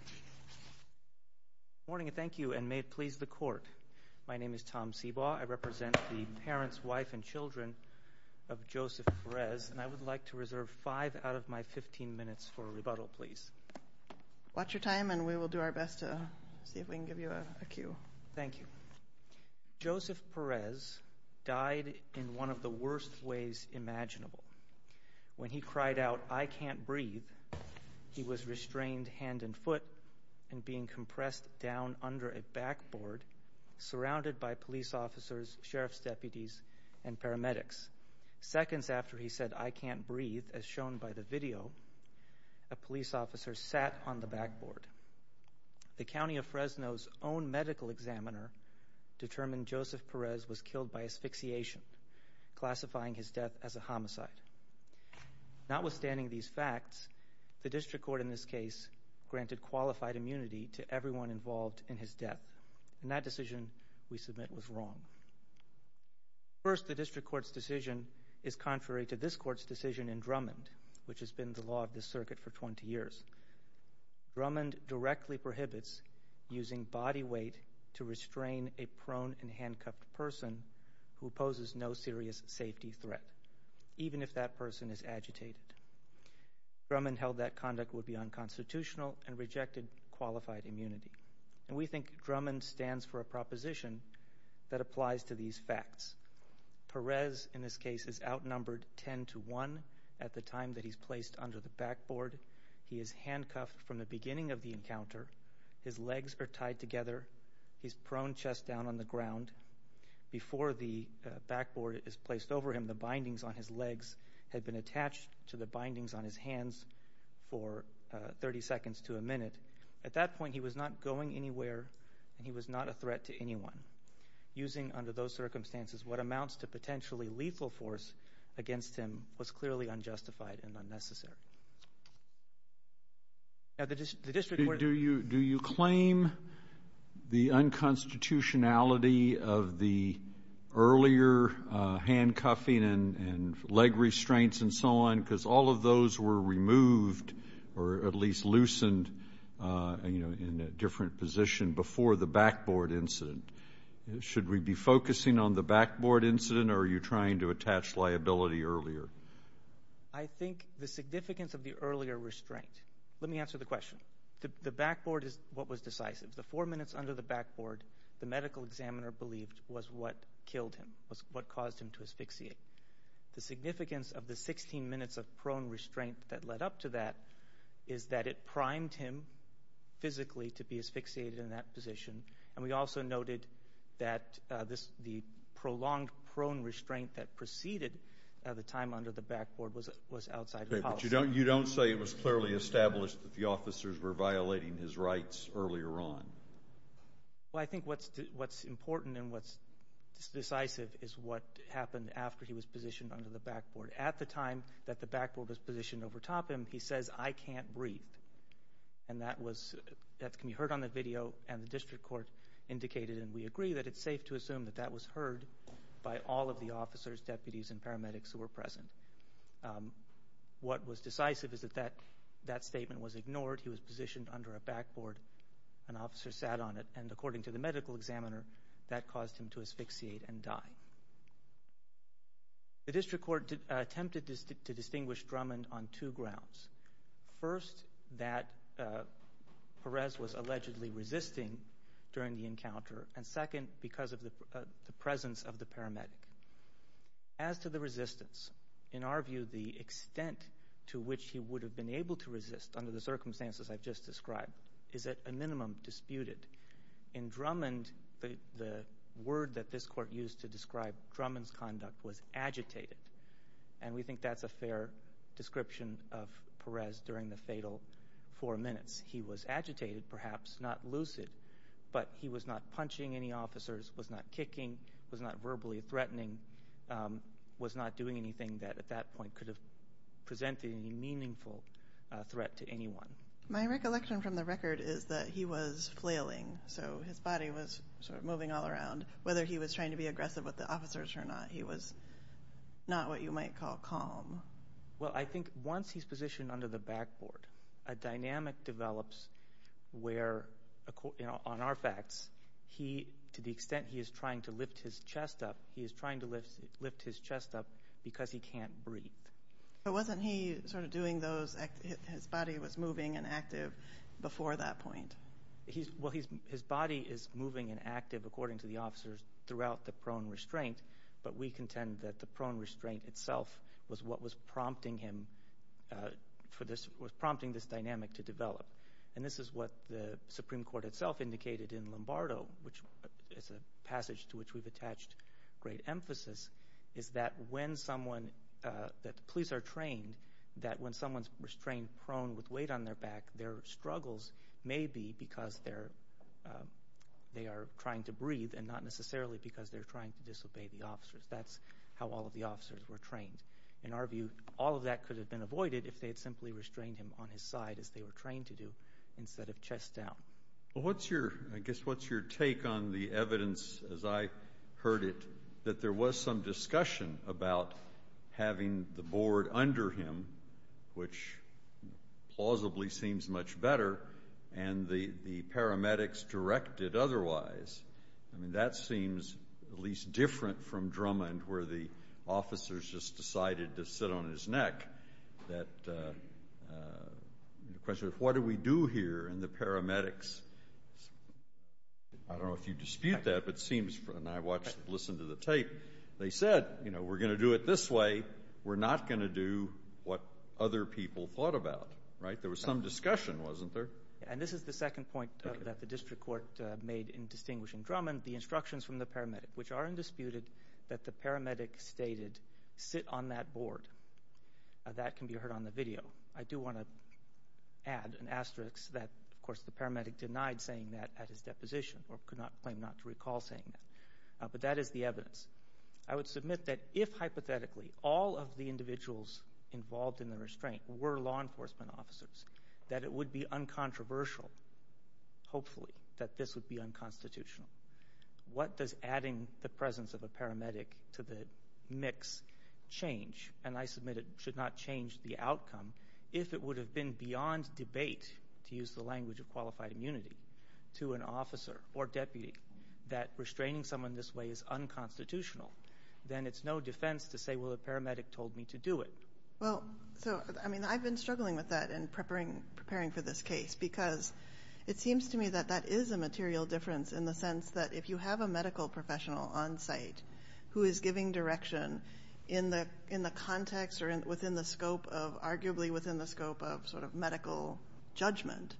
Good morning and thank you, and may it please the Court. My name is Tom Sebaugh. I represent the parents, wife, and children of Joseph Perez, and I would like to reserve five out of my fifteen minutes for a rebuttal, please. Watch your time, and we will do our best to see if we can give you a cue. Thank you. Joseph Perez died in one of the worst ways imaginable. When he cried out, I can't breathe, he was restrained hand and foot and being compressed down under a backboard surrounded by police officers, sheriff's deputies, and paramedics. Seconds after he said, I can't breathe, as shown by the video, a police officer sat on the backboard. The county of Fresno's own medical examiner determined Joseph Perez was killed by asphyxiation, classifying his death as a homicide. Notwithstanding these facts, the district court in this case granted qualified immunity to everyone involved in his death, and that decision we submit was wrong. First, the district court's decision is contrary to this court's decision in Drummond, which has been the law of this circuit for twenty years. Drummond directly prohibits using body weight to restrain a prone and handcuffed person who poses no serious safety threat, even if that person is agitated. Drummond held that conduct would be unconstitutional and rejected qualified immunity. And we think Drummond stands for a proposition that applies to these facts. Perez, in this case, is outnumbered ten to one at the time that he's placed under the backboard. He is handcuffed from the beginning of the encounter. His legs are tied together. He's prone chest down on the ground. Before the backboard is placed over him, the bindings on his legs had been attached to the bindings on his hands for thirty seconds to a minute. At that point, he was not going anywhere, and he was not a threat to anyone. Using under those circumstances what amounts to potentially lethal force against him was clearly unjustified and unnecessary. Do you claim the unconstitutionality of the earlier handcuffing and leg restraints and so on, because all of those were removed or at least loosened in a different position before the backboard incident? Should we be focusing on the backboard incident, or are you trying to attach liability earlier? I think the significance of the earlier restraint. Let me answer the question. The backboard is what was decisive. The four minutes under the backboard, the medical examiner believed, was what killed him, what caused him to asphyxiate. The significance of the 16 minutes of prone restraint that led up to that is that it primed him physically to be asphyxiated in that position. And we also noted that the prolonged prone restraint that preceded the time under the backboard was outside the policy. Okay, but you don't say it was clearly established that the officers were violating his rights earlier on? Well, I think what's important and what's decisive is what happened after he was positioned under the backboard. At the time that the backboard was positioned overtop him, he says, I can't breathe. And that can be heard on the video, and the district court indicated, and we agree, that it's safe to assume that that was heard by all of the officers, deputies, and paramedics who were present. After the court, he was positioned under a backboard. An officer sat on it, and according to the medical examiner, that caused him to asphyxiate and die. The district court attempted to distinguish Drummond on two grounds. First, that Perez was allegedly resisting during the encounter, and second, because of the presence of the paramedic. As to the resistance, in our view, the extent to which he would have been able to resist under the circumstances I've just described is at a minimum disputed. In Drummond, the word that this court used to describe Drummond's conduct was agitated, and we think that's a fair description of Perez during the fatal four minutes. He was agitated, perhaps not lucid, but he was not punching any officers, was not kicking, was not verbally threatening, was not doing anything that, at that point, could have presented any meaningful threat to anyone. My recollection from the record is that he was flailing, so his body was sort of moving all around. Whether he was trying to be aggressive with the officers or not, he was not what you might call calm. Well, I think once he's positioned under the backboard, a dynamic develops where, on our facts, to the extent he is trying to lift his chest up, he is trying to lift his chest up because he can't breathe. But wasn't he sort of doing those, his body was moving and active before that point? Well, his body is moving and active, according to the officers, throughout the prone restraint, but we contend that the prone restraint itself was what was prompting this dynamic to develop. And this is what the Supreme Court itself indicated in Lombardo, which is a passage to which we've attached great emphasis, is that when someone, that the police are trained, that when someone's restrained prone with weight on their back, their struggles may be because they are trying to breathe and not necessarily because they're trying to disobey the officers. That's how all of the officers were trained. In our view, all of that could have been avoided if they had simply restrained him on his side, as they were trained to do, instead of chest down. Well, I guess what's your take on the evidence, as I heard it, that there was some discussion about having the board under him, which plausibly seems much better, and the paramedics directed otherwise? I mean, that seems at least different from Drummond, where the officers just decided to sit on his neck. The question is, what do we do here? And the paramedics, I don't know if you dispute that, but it seems, and I watched and listened to the tape, they said, you know, we're going to do it this way. We're not going to do what other people thought about, right? There was some discussion, wasn't there? And this is the second point that the district court made in distinguishing Drummond, the instructions from the paramedic, which are undisputed, that the paramedic stated, sit on that board. That can be heard on the video. I do want to add an asterisk that, of course, the paramedic denied saying that at his deposition or could not claim not to recall saying that. But that is the evidence. I would submit that if, hypothetically, all of the individuals involved in the restraint were law enforcement officers, that it would be uncontroversial, hopefully, that this would be unconstitutional. What does adding the presence of a paramedic to the mix change? And I submit it should not change the outcome. If it would have been beyond debate, to use the language of qualified immunity, to an officer or deputy that restraining someone this way is unconstitutional, then it's no defense to say, well, the paramedic told me to do it. Well, so, I mean, I've been struggling with that in preparing for this case because it seems to me that that is a material difference in the sense that if you have a medical professional on site who is giving direction in the context or within the scope of, arguably, within the scope of sort of medical judgment,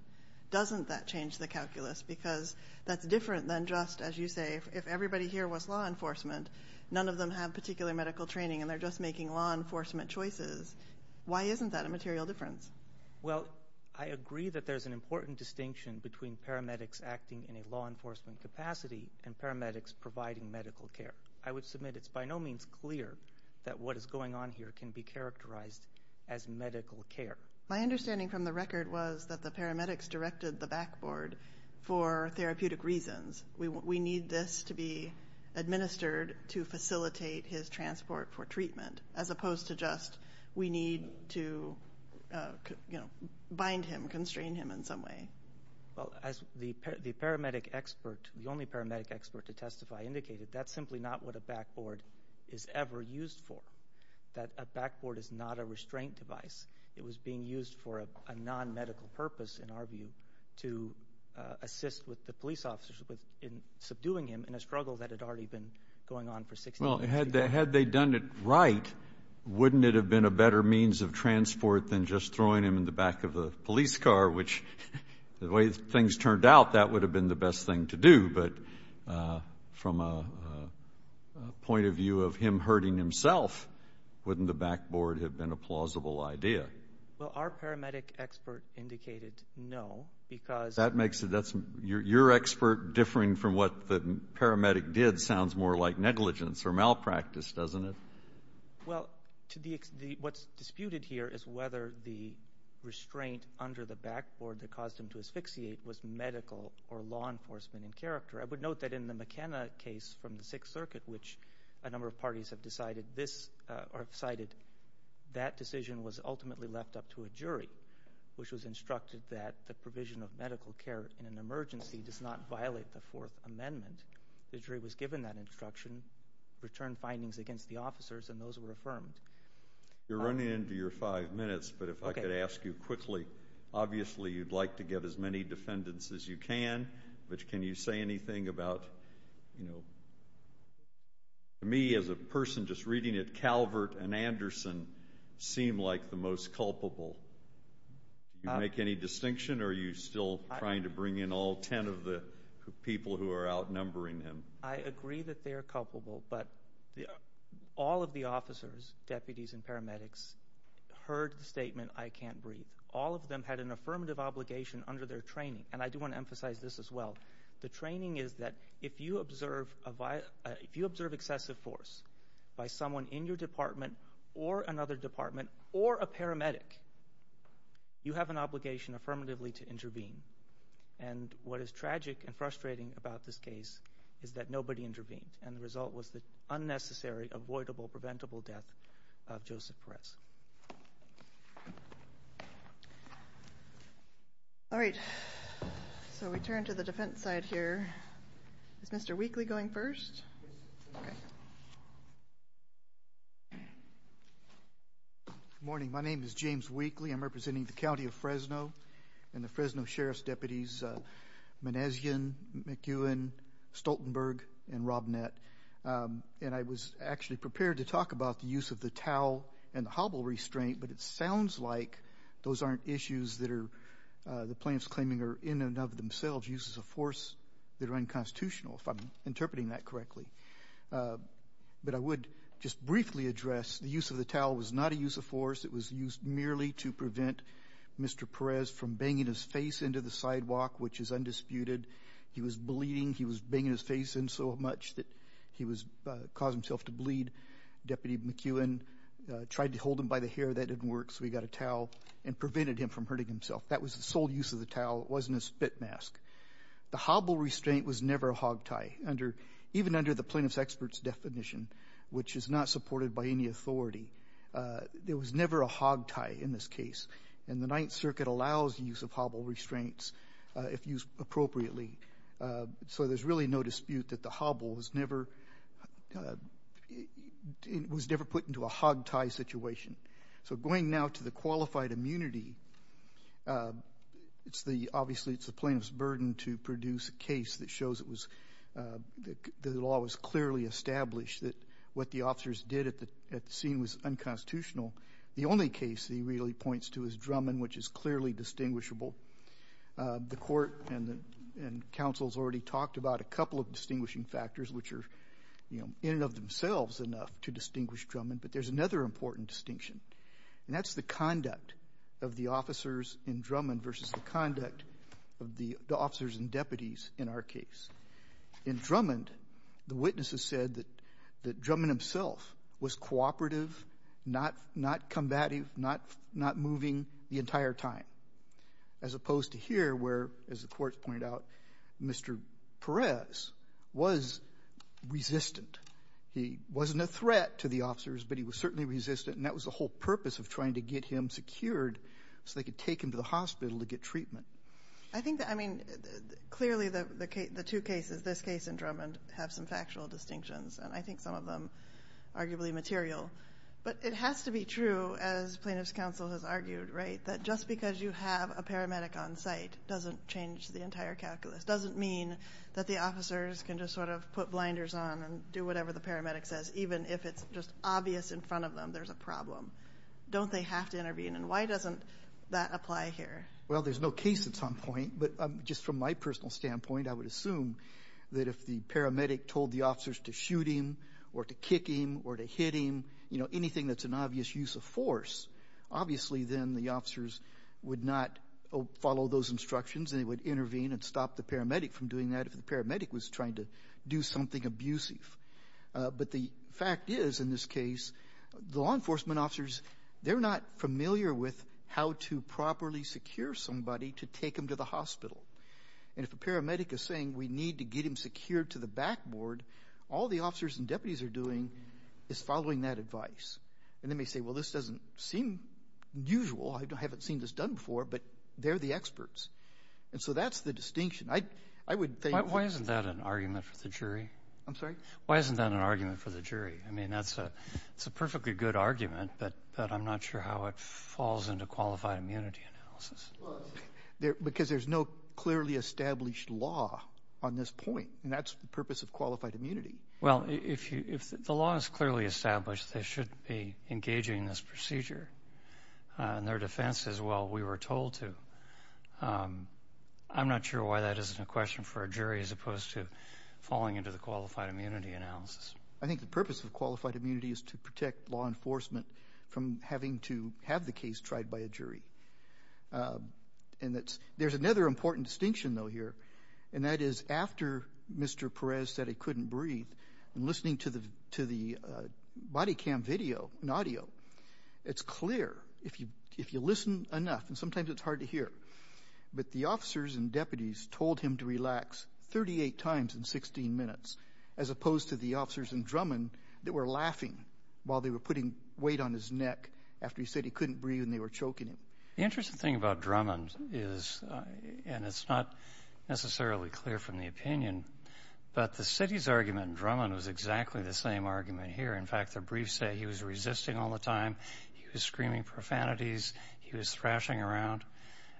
doesn't that change the calculus? Because that's different than just, as you say, if everybody here was law enforcement, none of them have particular medical training and they're just making law enforcement choices. Why isn't that a material difference? Well, I agree that there's an important distinction between paramedics acting in a law enforcement capacity and paramedics providing medical care. I would submit it's by no means clear that what is going on here can be characterized as medical care. My understanding from the record was that the paramedics directed the backboard for therapeutic reasons. We need this to be administered to facilitate his transport for treatment as opposed to just we need to bind him, constrain him in some way. Well, as the paramedic expert, the only paramedic expert to testify indicated, that's simply not what a backboard is ever used for, that a backboard is not a restraint device. It was being used for a non-medical purpose, in our view, to assist with the police officers in subduing him in a struggle that had already been going on for 16 years. Well, had they done it right, wouldn't it have been a better means of transport than just throwing him in the back of a police car, which the way things turned out, that would have been the best thing to do. But from a point of view of him hurting himself, wouldn't the backboard have been a plausible idea? Well, our paramedic expert indicated no because... That makes it, that's, your expert differing from what the paramedic did sounds more like negligence or malpractice, doesn't it? Well, what's disputed here is whether the restraint under the backboard that caused him to asphyxiate was medical or law enforcement in character. I would note that in the McKenna case from the Sixth Circuit, which a number of parties have decided, that decision was ultimately left up to a jury, which was instructed that the provision of medical care in an emergency does not violate the Fourth Amendment. The jury was given that instruction, returned findings against the officers, and those were affirmed. You're running into your five minutes, but if I could ask you quickly, obviously you'd like to get as many defendants as you can, but can you say anything about, you know, to me as a person just reading it, Calvert and Anderson seem like the most culpable. Do you make any distinction or are you still trying to bring in all ten of the people who are outnumbering him? I agree that they are culpable, but all of the officers, deputies and paramedics, heard the statement, I can't breathe. All of them had an affirmative obligation under their training. And I do want to emphasize this as well. The training is that if you observe excessive force by someone in your department or another department or a paramedic, you have an obligation affirmatively to intervene. And what is tragic and frustrating about this case is that nobody intervened, and the result was the unnecessary, avoidable, preventable death of Joseph Perez. All right. So we turn to the defense side here. Is Mr. Weakley going first? Good morning. My name is James Weakley. I'm representing the County of Fresno and the Fresno Sheriff's Deputies Menezian, McEwen, Stoltenberg, and Robnett. And I was actually prepared to talk about the use of the towel and the hobble restraint, but it sounds like those aren't issues that the plaintiffs claiming are in and of themselves, uses of force that are unconstitutional, if I'm interpreting that correctly. But I would just briefly address the use of the towel was not a use of force. It was used merely to prevent Mr. Perez from banging his face into the sidewalk, which is undisputed. He was bleeding. He was banging his face in so much that he caused himself to bleed. Deputy McEwen tried to hold him by the hair. That didn't work, so he got a towel and prevented him from hurting himself. That was the sole use of the towel. It wasn't a spit mask. The hobble restraint was never a hog tie, even under the plaintiff's expert's definition, which is not supported by any authority. There was never a hog tie in this case, and the Ninth Circuit allows the use of hobble restraints if used appropriately. So there's really no dispute that the hobble was never put into a hog tie situation. So going now to the qualified immunity, obviously it's the plaintiff's burden to produce a case that shows the law was clearly established, that what the officers did at the scene was unconstitutional. The only case he really points to is Drummond, which is clearly distinguishable. The Court and counsels already talked about a couple of distinguishing factors, which are in and of themselves enough to distinguish Drummond, but there's another important distinction, and that's the conduct of the officers in Drummond versus the conduct of the officers and deputies in our case. In Drummond, the witnesses said that Drummond himself was cooperative, not combative, not moving the entire time, as opposed to here where, as the courts pointed out, Mr. Perez was resistant. He wasn't a threat to the officers, but he was certainly resistant, and that was the whole purpose of trying to get him secured so they could take him to the hospital to get treatment. I mean, clearly the two cases, this case and Drummond, have some factual distinctions, and I think some of them are arguably material, but it has to be true, as plaintiff's counsel has argued, right, that just because you have a paramedic on site doesn't change the entire calculus, doesn't mean that the officers can just sort of put blinders on and do whatever the paramedic says, even if it's just obvious in front of them there's a problem. Don't they have to intervene, and why doesn't that apply here? Well, there's no case that's on point, but just from my personal standpoint, I would assume that if the paramedic told the officers to shoot him or to kick him or to hit him, you know, anything that's an obvious use of force, obviously then the officers would not follow those instructions, and they would intervene and stop the paramedic from doing that if the paramedic was trying to do something abusive. But the fact is, in this case, the law enforcement officers, they're not familiar with how to properly secure somebody to take them to the hospital. And if a paramedic is saying we need to get him secured to the backboard, all the officers and deputies are doing is following that advice. And they may say, well, this doesn't seem usual. I haven't seen this done before, but they're the experts. And so that's the distinction. Why isn't that an argument for the jury? I'm sorry? Why isn't that an argument for the jury? I mean, that's a perfectly good argument, but I'm not sure how it falls into qualified immunity analysis. Because there's no clearly established law on this point, and that's the purpose of qualified immunity. Well, if the law is clearly established, they shouldn't be engaging in this procedure. And their defense is, well, we were told to. I'm not sure why that isn't a question for a jury as opposed to falling into the qualified immunity analysis. I think the purpose of qualified immunity is to protect law enforcement from having to have the case tried by a jury. And there's another important distinction, though, here, and that is after Mr. Perez said he couldn't breathe, and listening to the body cam video and audio, it's clear if you listen enough. And sometimes it's hard to hear. But the officers and deputies told him to relax 38 times in 16 minutes as opposed to the officers in Drummond that were laughing while they were putting weight on his neck after he said he couldn't breathe and they were choking him. The interesting thing about Drummond is, and it's not necessarily clear from the opinion, but the city's argument in Drummond was exactly the same argument here. In fact, the briefs say he was resisting all the time, he was screaming profanities, he was thrashing around.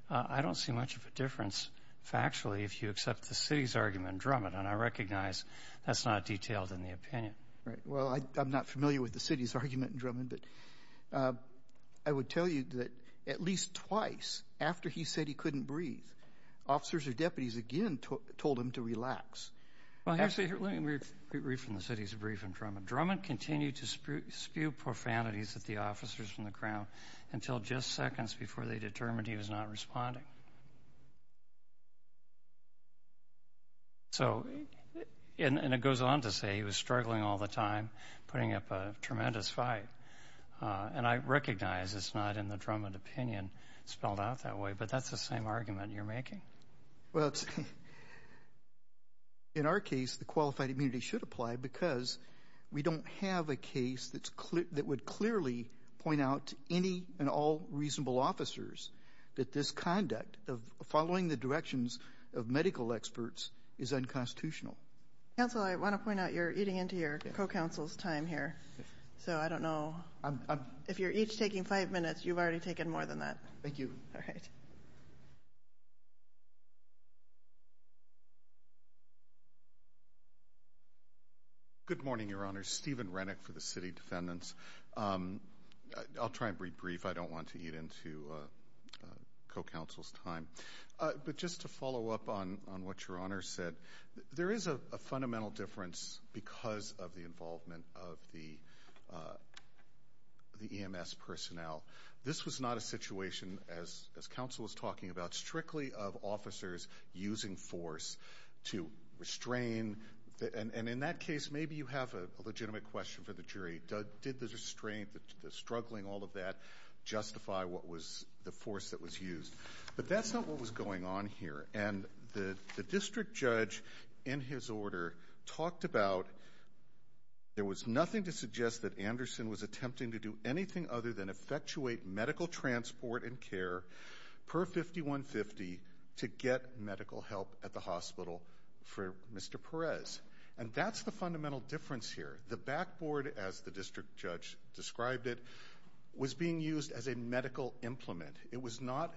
I don't see much of a difference factually if you accept the city's argument in Drummond. And I recognize that's not detailed in the opinion. Well, I'm not familiar with the city's argument in Drummond, but I would tell you that at least twice after he said he couldn't breathe, officers or deputies again told him to relax. Actually, let me read from the city's brief in Drummond. Drummond continued to spew profanities at the officers from the Crown until just seconds before they determined he was not responding. So, and it goes on to say he was struggling all the time, putting up a tremendous fight. And I recognize it's not in the Drummond opinion spelled out that way, but that's the same argument you're making. Well, in our case, the qualified immunity should apply because we don't have a case that would clearly point out to any and all reasonable officers that this conduct of following the directions of medical experts is unconstitutional. Counsel, I want to point out you're eating into your co-counsel's time here. So I don't know. If you're each taking five minutes, you've already taken more than that. Thank you. All right. Good morning, Your Honor. Steven Renick for the City Defendants. I'll try and be brief. I don't want to eat into co-counsel's time. But just to follow up on what Your Honor said, there is a fundamental difference because of the involvement of the EMS personnel. This was not a situation, as counsel was talking about, strictly of officers using force to restrain. And in that case, maybe you have a legitimate question for the jury. Did the restraint, the struggling, all of that justify what was the force that was used? But that's not what was going on here. And the district judge, in his order, talked about there was nothing to suggest that Anderson was attempting to do anything other than effectuate medical transport and care per 5150 to get medical help at the hospital for Mr. Perez. And that's the fundamental difference here. The backboard, as the district judge described it, was being used as a medical implement. It was not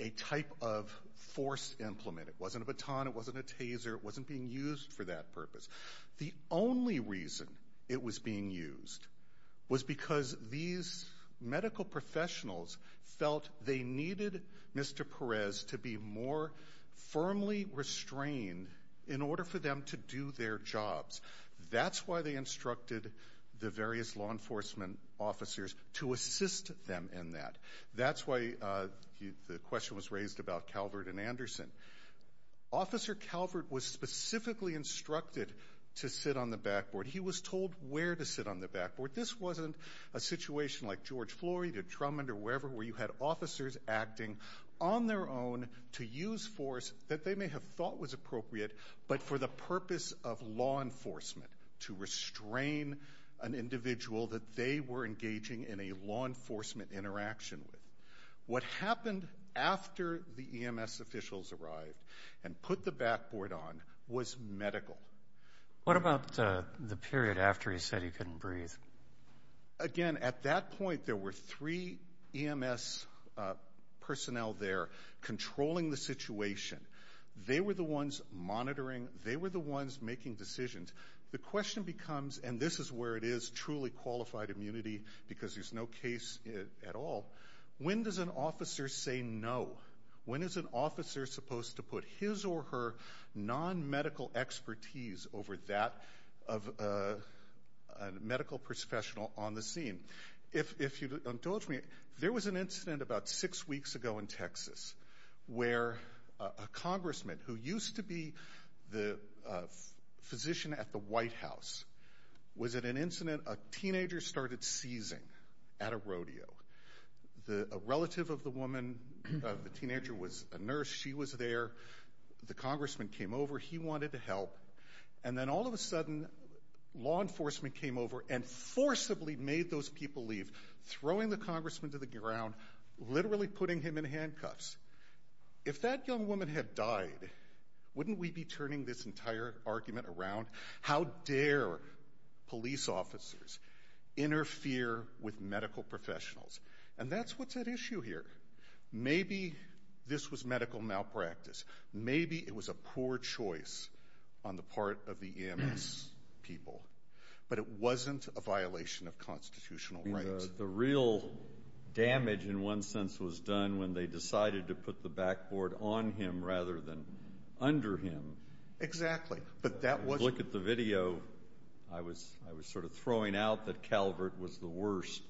a type of force implement. It wasn't a baton. It wasn't a taser. It wasn't being used for that purpose. The only reason it was being used was because these medical professionals felt they needed Mr. Perez to be more firmly restrained in order for them to do their jobs. That's why they instructed the various law enforcement officers to assist them in that. That's why the question was raised about Calvert and Anderson. Officer Calvert was specifically instructed to sit on the backboard. He was told where to sit on the backboard. This wasn't a situation like George Flory, or Drummond, or wherever, where you had officers acting on their own to use force that they may have thought was appropriate, but for the purpose of law enforcement, to restrain an individual that they were engaging in a law enforcement interaction with. What happened after the EMS officials arrived and put the backboard on was medical. What about the period after he said he couldn't breathe? Again, at that point there were three EMS personnel there controlling the situation. They were the ones monitoring. They were the ones making decisions. The question becomes, and this is where it is truly qualified immunity because there's no case at all, when does an officer say no? When is an officer supposed to put his or her non-medical expertise over that of a medical professional on the scene? If you'll indulge me, there was an incident about six weeks ago in Texas where a congressman who used to be the physician at the White House was at an incident a teenager started seizing at a rodeo. A relative of the teenager was a nurse. She was there. The congressman came over. He wanted to help. And then all of a sudden law enforcement came over and forcibly made those people leave, throwing the congressman to the ground, literally putting him in handcuffs. If that young woman had died, wouldn't we be turning this entire argument around? How dare police officers interfere with medical professionals? And that's what's at issue here. Maybe this was medical malpractice. Maybe it was a poor choice on the part of the EMS people. But it wasn't a violation of constitutional rights. The real damage, in one sense, was done when they decided to put the backboard on him rather than under him. Exactly. But that was... If you look at the video, I was sort of throwing out that Calvert was the worst.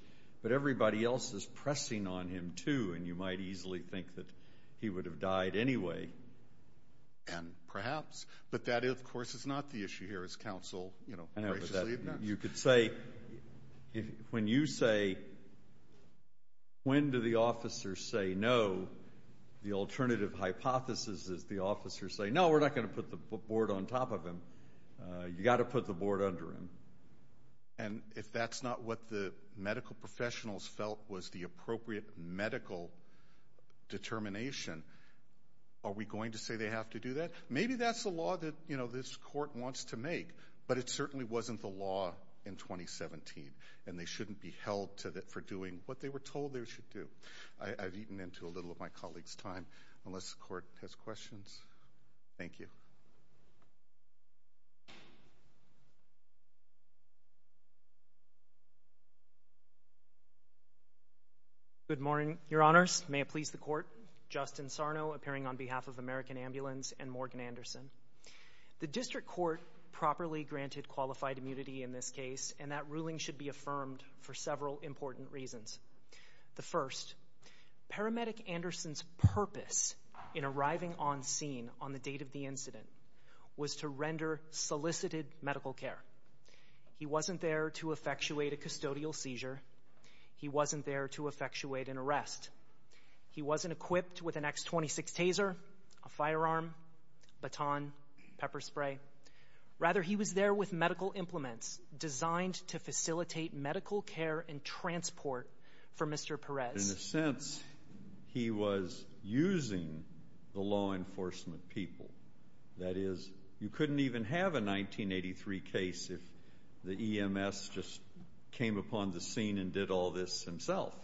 But everybody else is pressing on him, too, and you might easily think that he would have died anyway. And perhaps... But that, of course, is not the issue here, as counsel graciously admits. You could say... When you say, when do the officers say no, the alternative hypothesis is the officers say, no, we're not going to put the board on top of him. You've got to put the board under him. And if that's not what the medical professionals felt was the appropriate medical determination, are we going to say they have to do that? Maybe that's the law that this court wants to make, but it certainly wasn't the law in 2017, and they shouldn't be held for doing what they were told they should do. I've eaten into a little of my colleagues' time. Unless the court has questions. Thank you. Good morning, Your Honors. May it please the Court. Justin Sarno appearing on behalf of American Ambulance and Morgan Anderson. The district court properly granted qualified immunity in this case, and that ruling should be affirmed for several important reasons. The first, Paramedic Anderson's purpose in arriving on scene on the date of the incident was to render solicited medical care. He wasn't there to effectuate a custodial seizure. He wasn't there to effectuate an arrest. He wasn't equipped with an X26 taser, a firearm, baton, pepper spray. Rather, he was there with medical implements designed to facilitate medical care and transport for Mr. Perez. In a sense, he was using the law enforcement people. That is, you couldn't even have a 1983 case if the EMS just came upon the scene and did all this himself.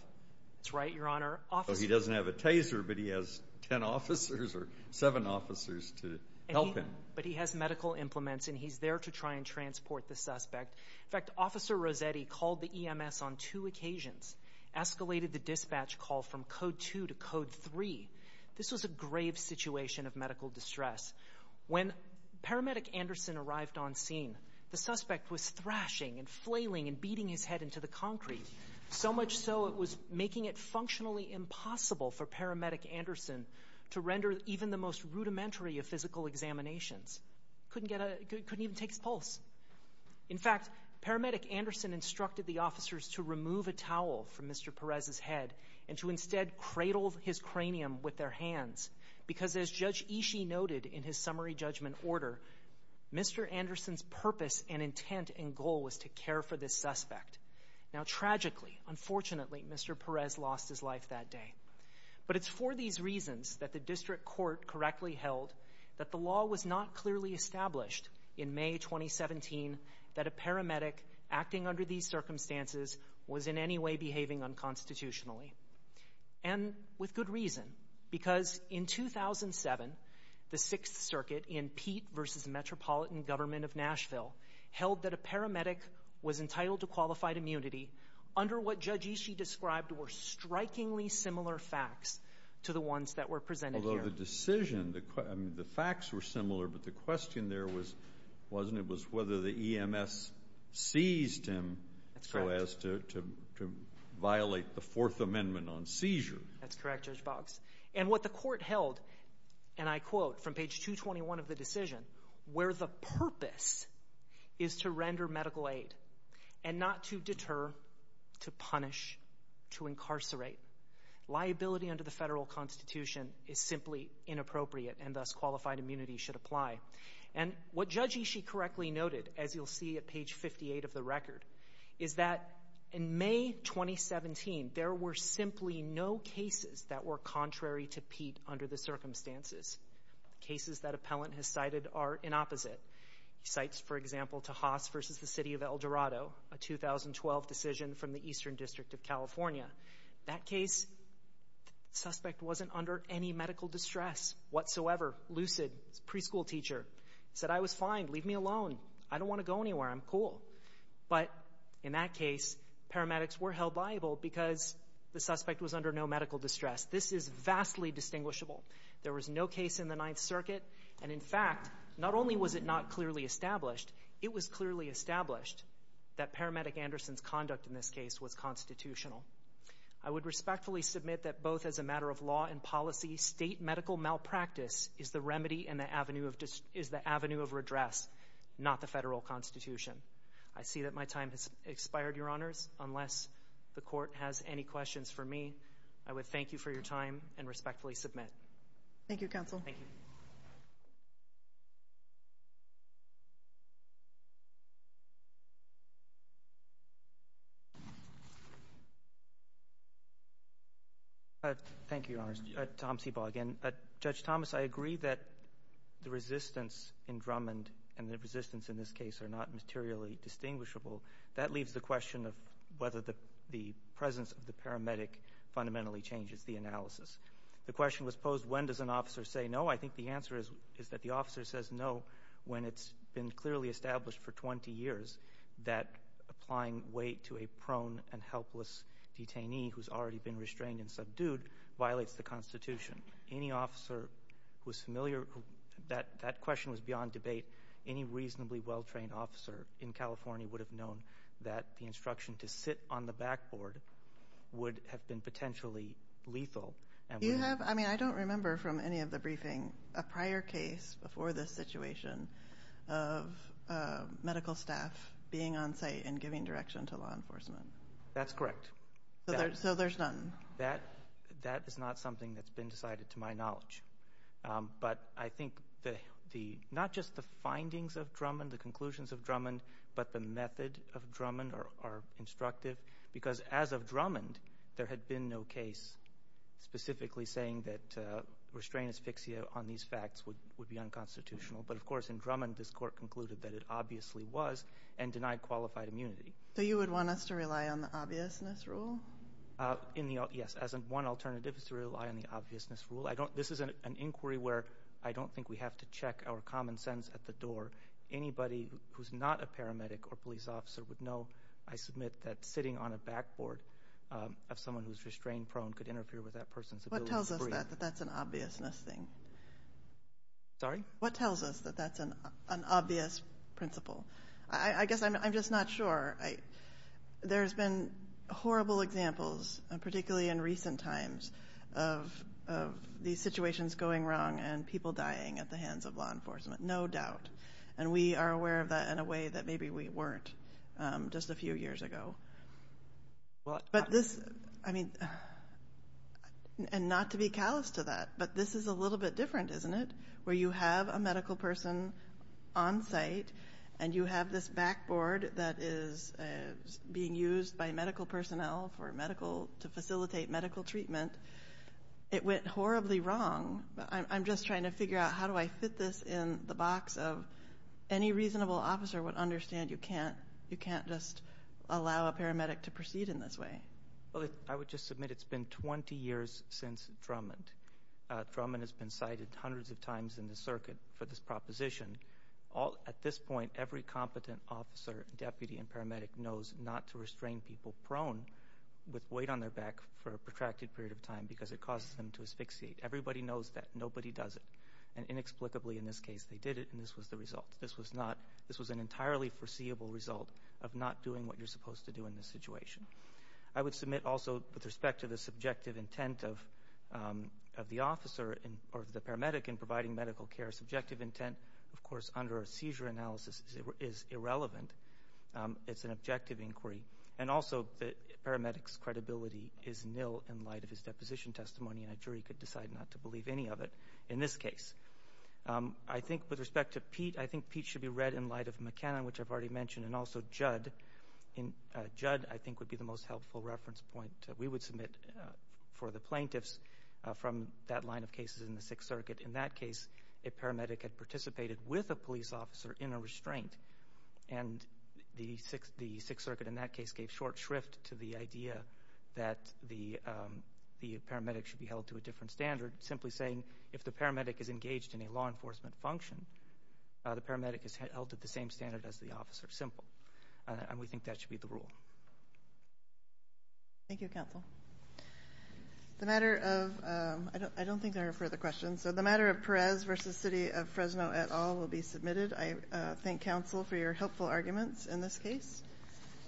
That's right, Your Honor. He doesn't have a taser, but he has ten officers or seven officers to help him. But he has medical implements, and he's there to try and transport the suspect. In fact, Officer Rossetti called the EMS on two occasions, escalated the dispatch call from Code 2 to Code 3. This was a grave situation of medical distress. When Paramedic Anderson arrived on scene, the suspect was thrashing and flailing and beating his head into the concrete, so much so it was making it functionally impossible for Paramedic Anderson to render even the most rudimentary of physical examinations. He couldn't even take his pulse. In fact, Paramedic Anderson instructed the officers to remove a towel from Mr. Perez's head and to instead cradle his cranium with their hands because, as Judge Ishii noted in his summary judgment order, Mr. Anderson's purpose and intent and goal was to care for this suspect. Now, tragically, unfortunately, Mr. Perez lost his life that day. But it's for these reasons that the district court correctly held that the law was not clearly established in May 2017 that a paramedic acting under these circumstances was in any way behaving unconstitutionally. And with good reason, because in 2007, the Sixth Circuit in Pete v. Metropolitan Government of Nashville held that a paramedic was entitled to qualified immunity under what Judge Ishii described were strikingly similar facts to the ones that were presented here. Although the decision, the facts were similar, but the question there wasn't. It was whether the EMS seized him so as to violate the Fourth Amendment on seizure. That's correct, Judge Boggs. And what the court held, and I quote from page 221 of the decision, where the purpose is to render medical aid and not to deter, to punish, to incarcerate. Liability under the federal constitution is simply inappropriate, and thus qualified immunity should apply. And what Judge Ishii correctly noted, as you'll see at page 58 of the record, is that in May 2017, there were simply no cases that were contrary to Pete under the circumstances. Cases that Appellant has cited are in opposite. He cites, for example, Tahas v. The City of El Dorado, a 2012 decision from the Eastern District of California. That case, the suspect wasn't under any medical distress whatsoever. Lucid, preschool teacher. Said, I was fine, leave me alone. I don't want to go anywhere, I'm cool. But in that case, paramedics were held liable because the suspect was under no medical distress. This is vastly distinguishable. There was no case in the Ninth Circuit, and in fact, not only was it not clearly established, it was clearly established that paramedic Anderson's conduct in this case was constitutional. I would respectfully submit that both as a matter of law and policy, state medical malpractice is the remedy and the avenue of redress, not the federal constitution. I see that my time has expired, Your Honors, unless the court has any questions for me. I would thank you for your time and respectfully submit. Thank you, Counsel. Thank you. Thank you, Your Honors. Tom Seabog. Judge Thomas, I agree that the resistance in Drummond and the resistance in this case are not materially distinguishable. That leaves the question of whether the presence of the paramedic fundamentally changes the analysis. The question was posed, when does an officer say no? I think the answer is that the officer says no when it's been clearly established for 20 years that applying weight to a prone and helpless detainee who's already been restrained and subdued violates the constitution. Any officer who's familiar, that question was beyond debate. Any reasonably well-trained officer in California would have known that the instruction to sit on the backboard would have been potentially lethal. I don't remember from any of the briefing a prior case before this situation of medical staff being on site and giving direction to law enforcement. That's correct. So there's none? That is not something that's been decided to my knowledge. But I think not just the findings of Drummond, the conclusions of Drummond, but the method of Drummond are instructive. Because as of Drummond, there had been no case specifically saying that restrained asphyxia on these facts would be unconstitutional. But, of course, in Drummond, this court concluded that it obviously was and denied qualified immunity. So you would want us to rely on the obviousness rule? Yes, as in one alternative is to rely on the obviousness rule. This is an inquiry where I don't think we have to check our common sense at the door. Anybody who's not a paramedic or police officer would know, I submit, that sitting on a backboard of someone who's restrained prone could interfere with that person's ability to breathe. What tells us that that's an obviousness thing? Sorry? What tells us that that's an obvious principle? I guess I'm just not sure. There's been horrible examples, particularly in recent times, of these situations going wrong and people dying at the hands of law enforcement, no doubt. And we are aware of that in a way that maybe we weren't just a few years ago. And not to be callous to that, but this is a little bit different, isn't it? Where you have a medical person on site and you have this backboard that is being used by medical personnel to facilitate medical treatment. It went horribly wrong. I'm just trying to figure out how do I fit this in the box of any reasonable officer would understand you can't just allow a paramedic to proceed in this way. I would just submit it's been 20 years since Drummond. Drummond has been cited hundreds of times in the circuit for this proposition. At this point, every competent officer, deputy, and paramedic knows not to restrain people prone with weight on their back for a protracted period of time because it causes them to asphyxiate. Everybody knows that. Nobody does it. And inexplicably, in this case, they did it, and this was the result. This was an entirely foreseeable result of not doing what you're supposed to do in this situation. I would submit also with respect to the subjective intent of the officer or the paramedic in providing medical care, subjective intent, of course, under a seizure analysis is irrelevant. It's an objective inquiry. And also the paramedic's credibility is nil in light of his deposition testimony, and a jury could decide not to believe any of it in this case. I think with respect to Pete, I think Pete should be read in light of McKenna, which I've already mentioned, and also Judd. Judd, I think, would be the most helpful reference point we would submit for the plaintiffs from that line of cases in the Sixth Circuit. In that case, a paramedic had participated with a police officer in a restraint, and the Sixth Circuit in that case gave short shrift to the idea that the paramedic should be held to a different standard, simply saying if the paramedic is engaged in a law enforcement function, the paramedic is held to the same standard as the officer, simple. And we think that should be the rule. Thank you, Counsel. The matter of – I don't think there are further questions. So the matter of Perez v. City of Fresno et al. will be submitted. I thank Counsel for your helpful arguments in this case.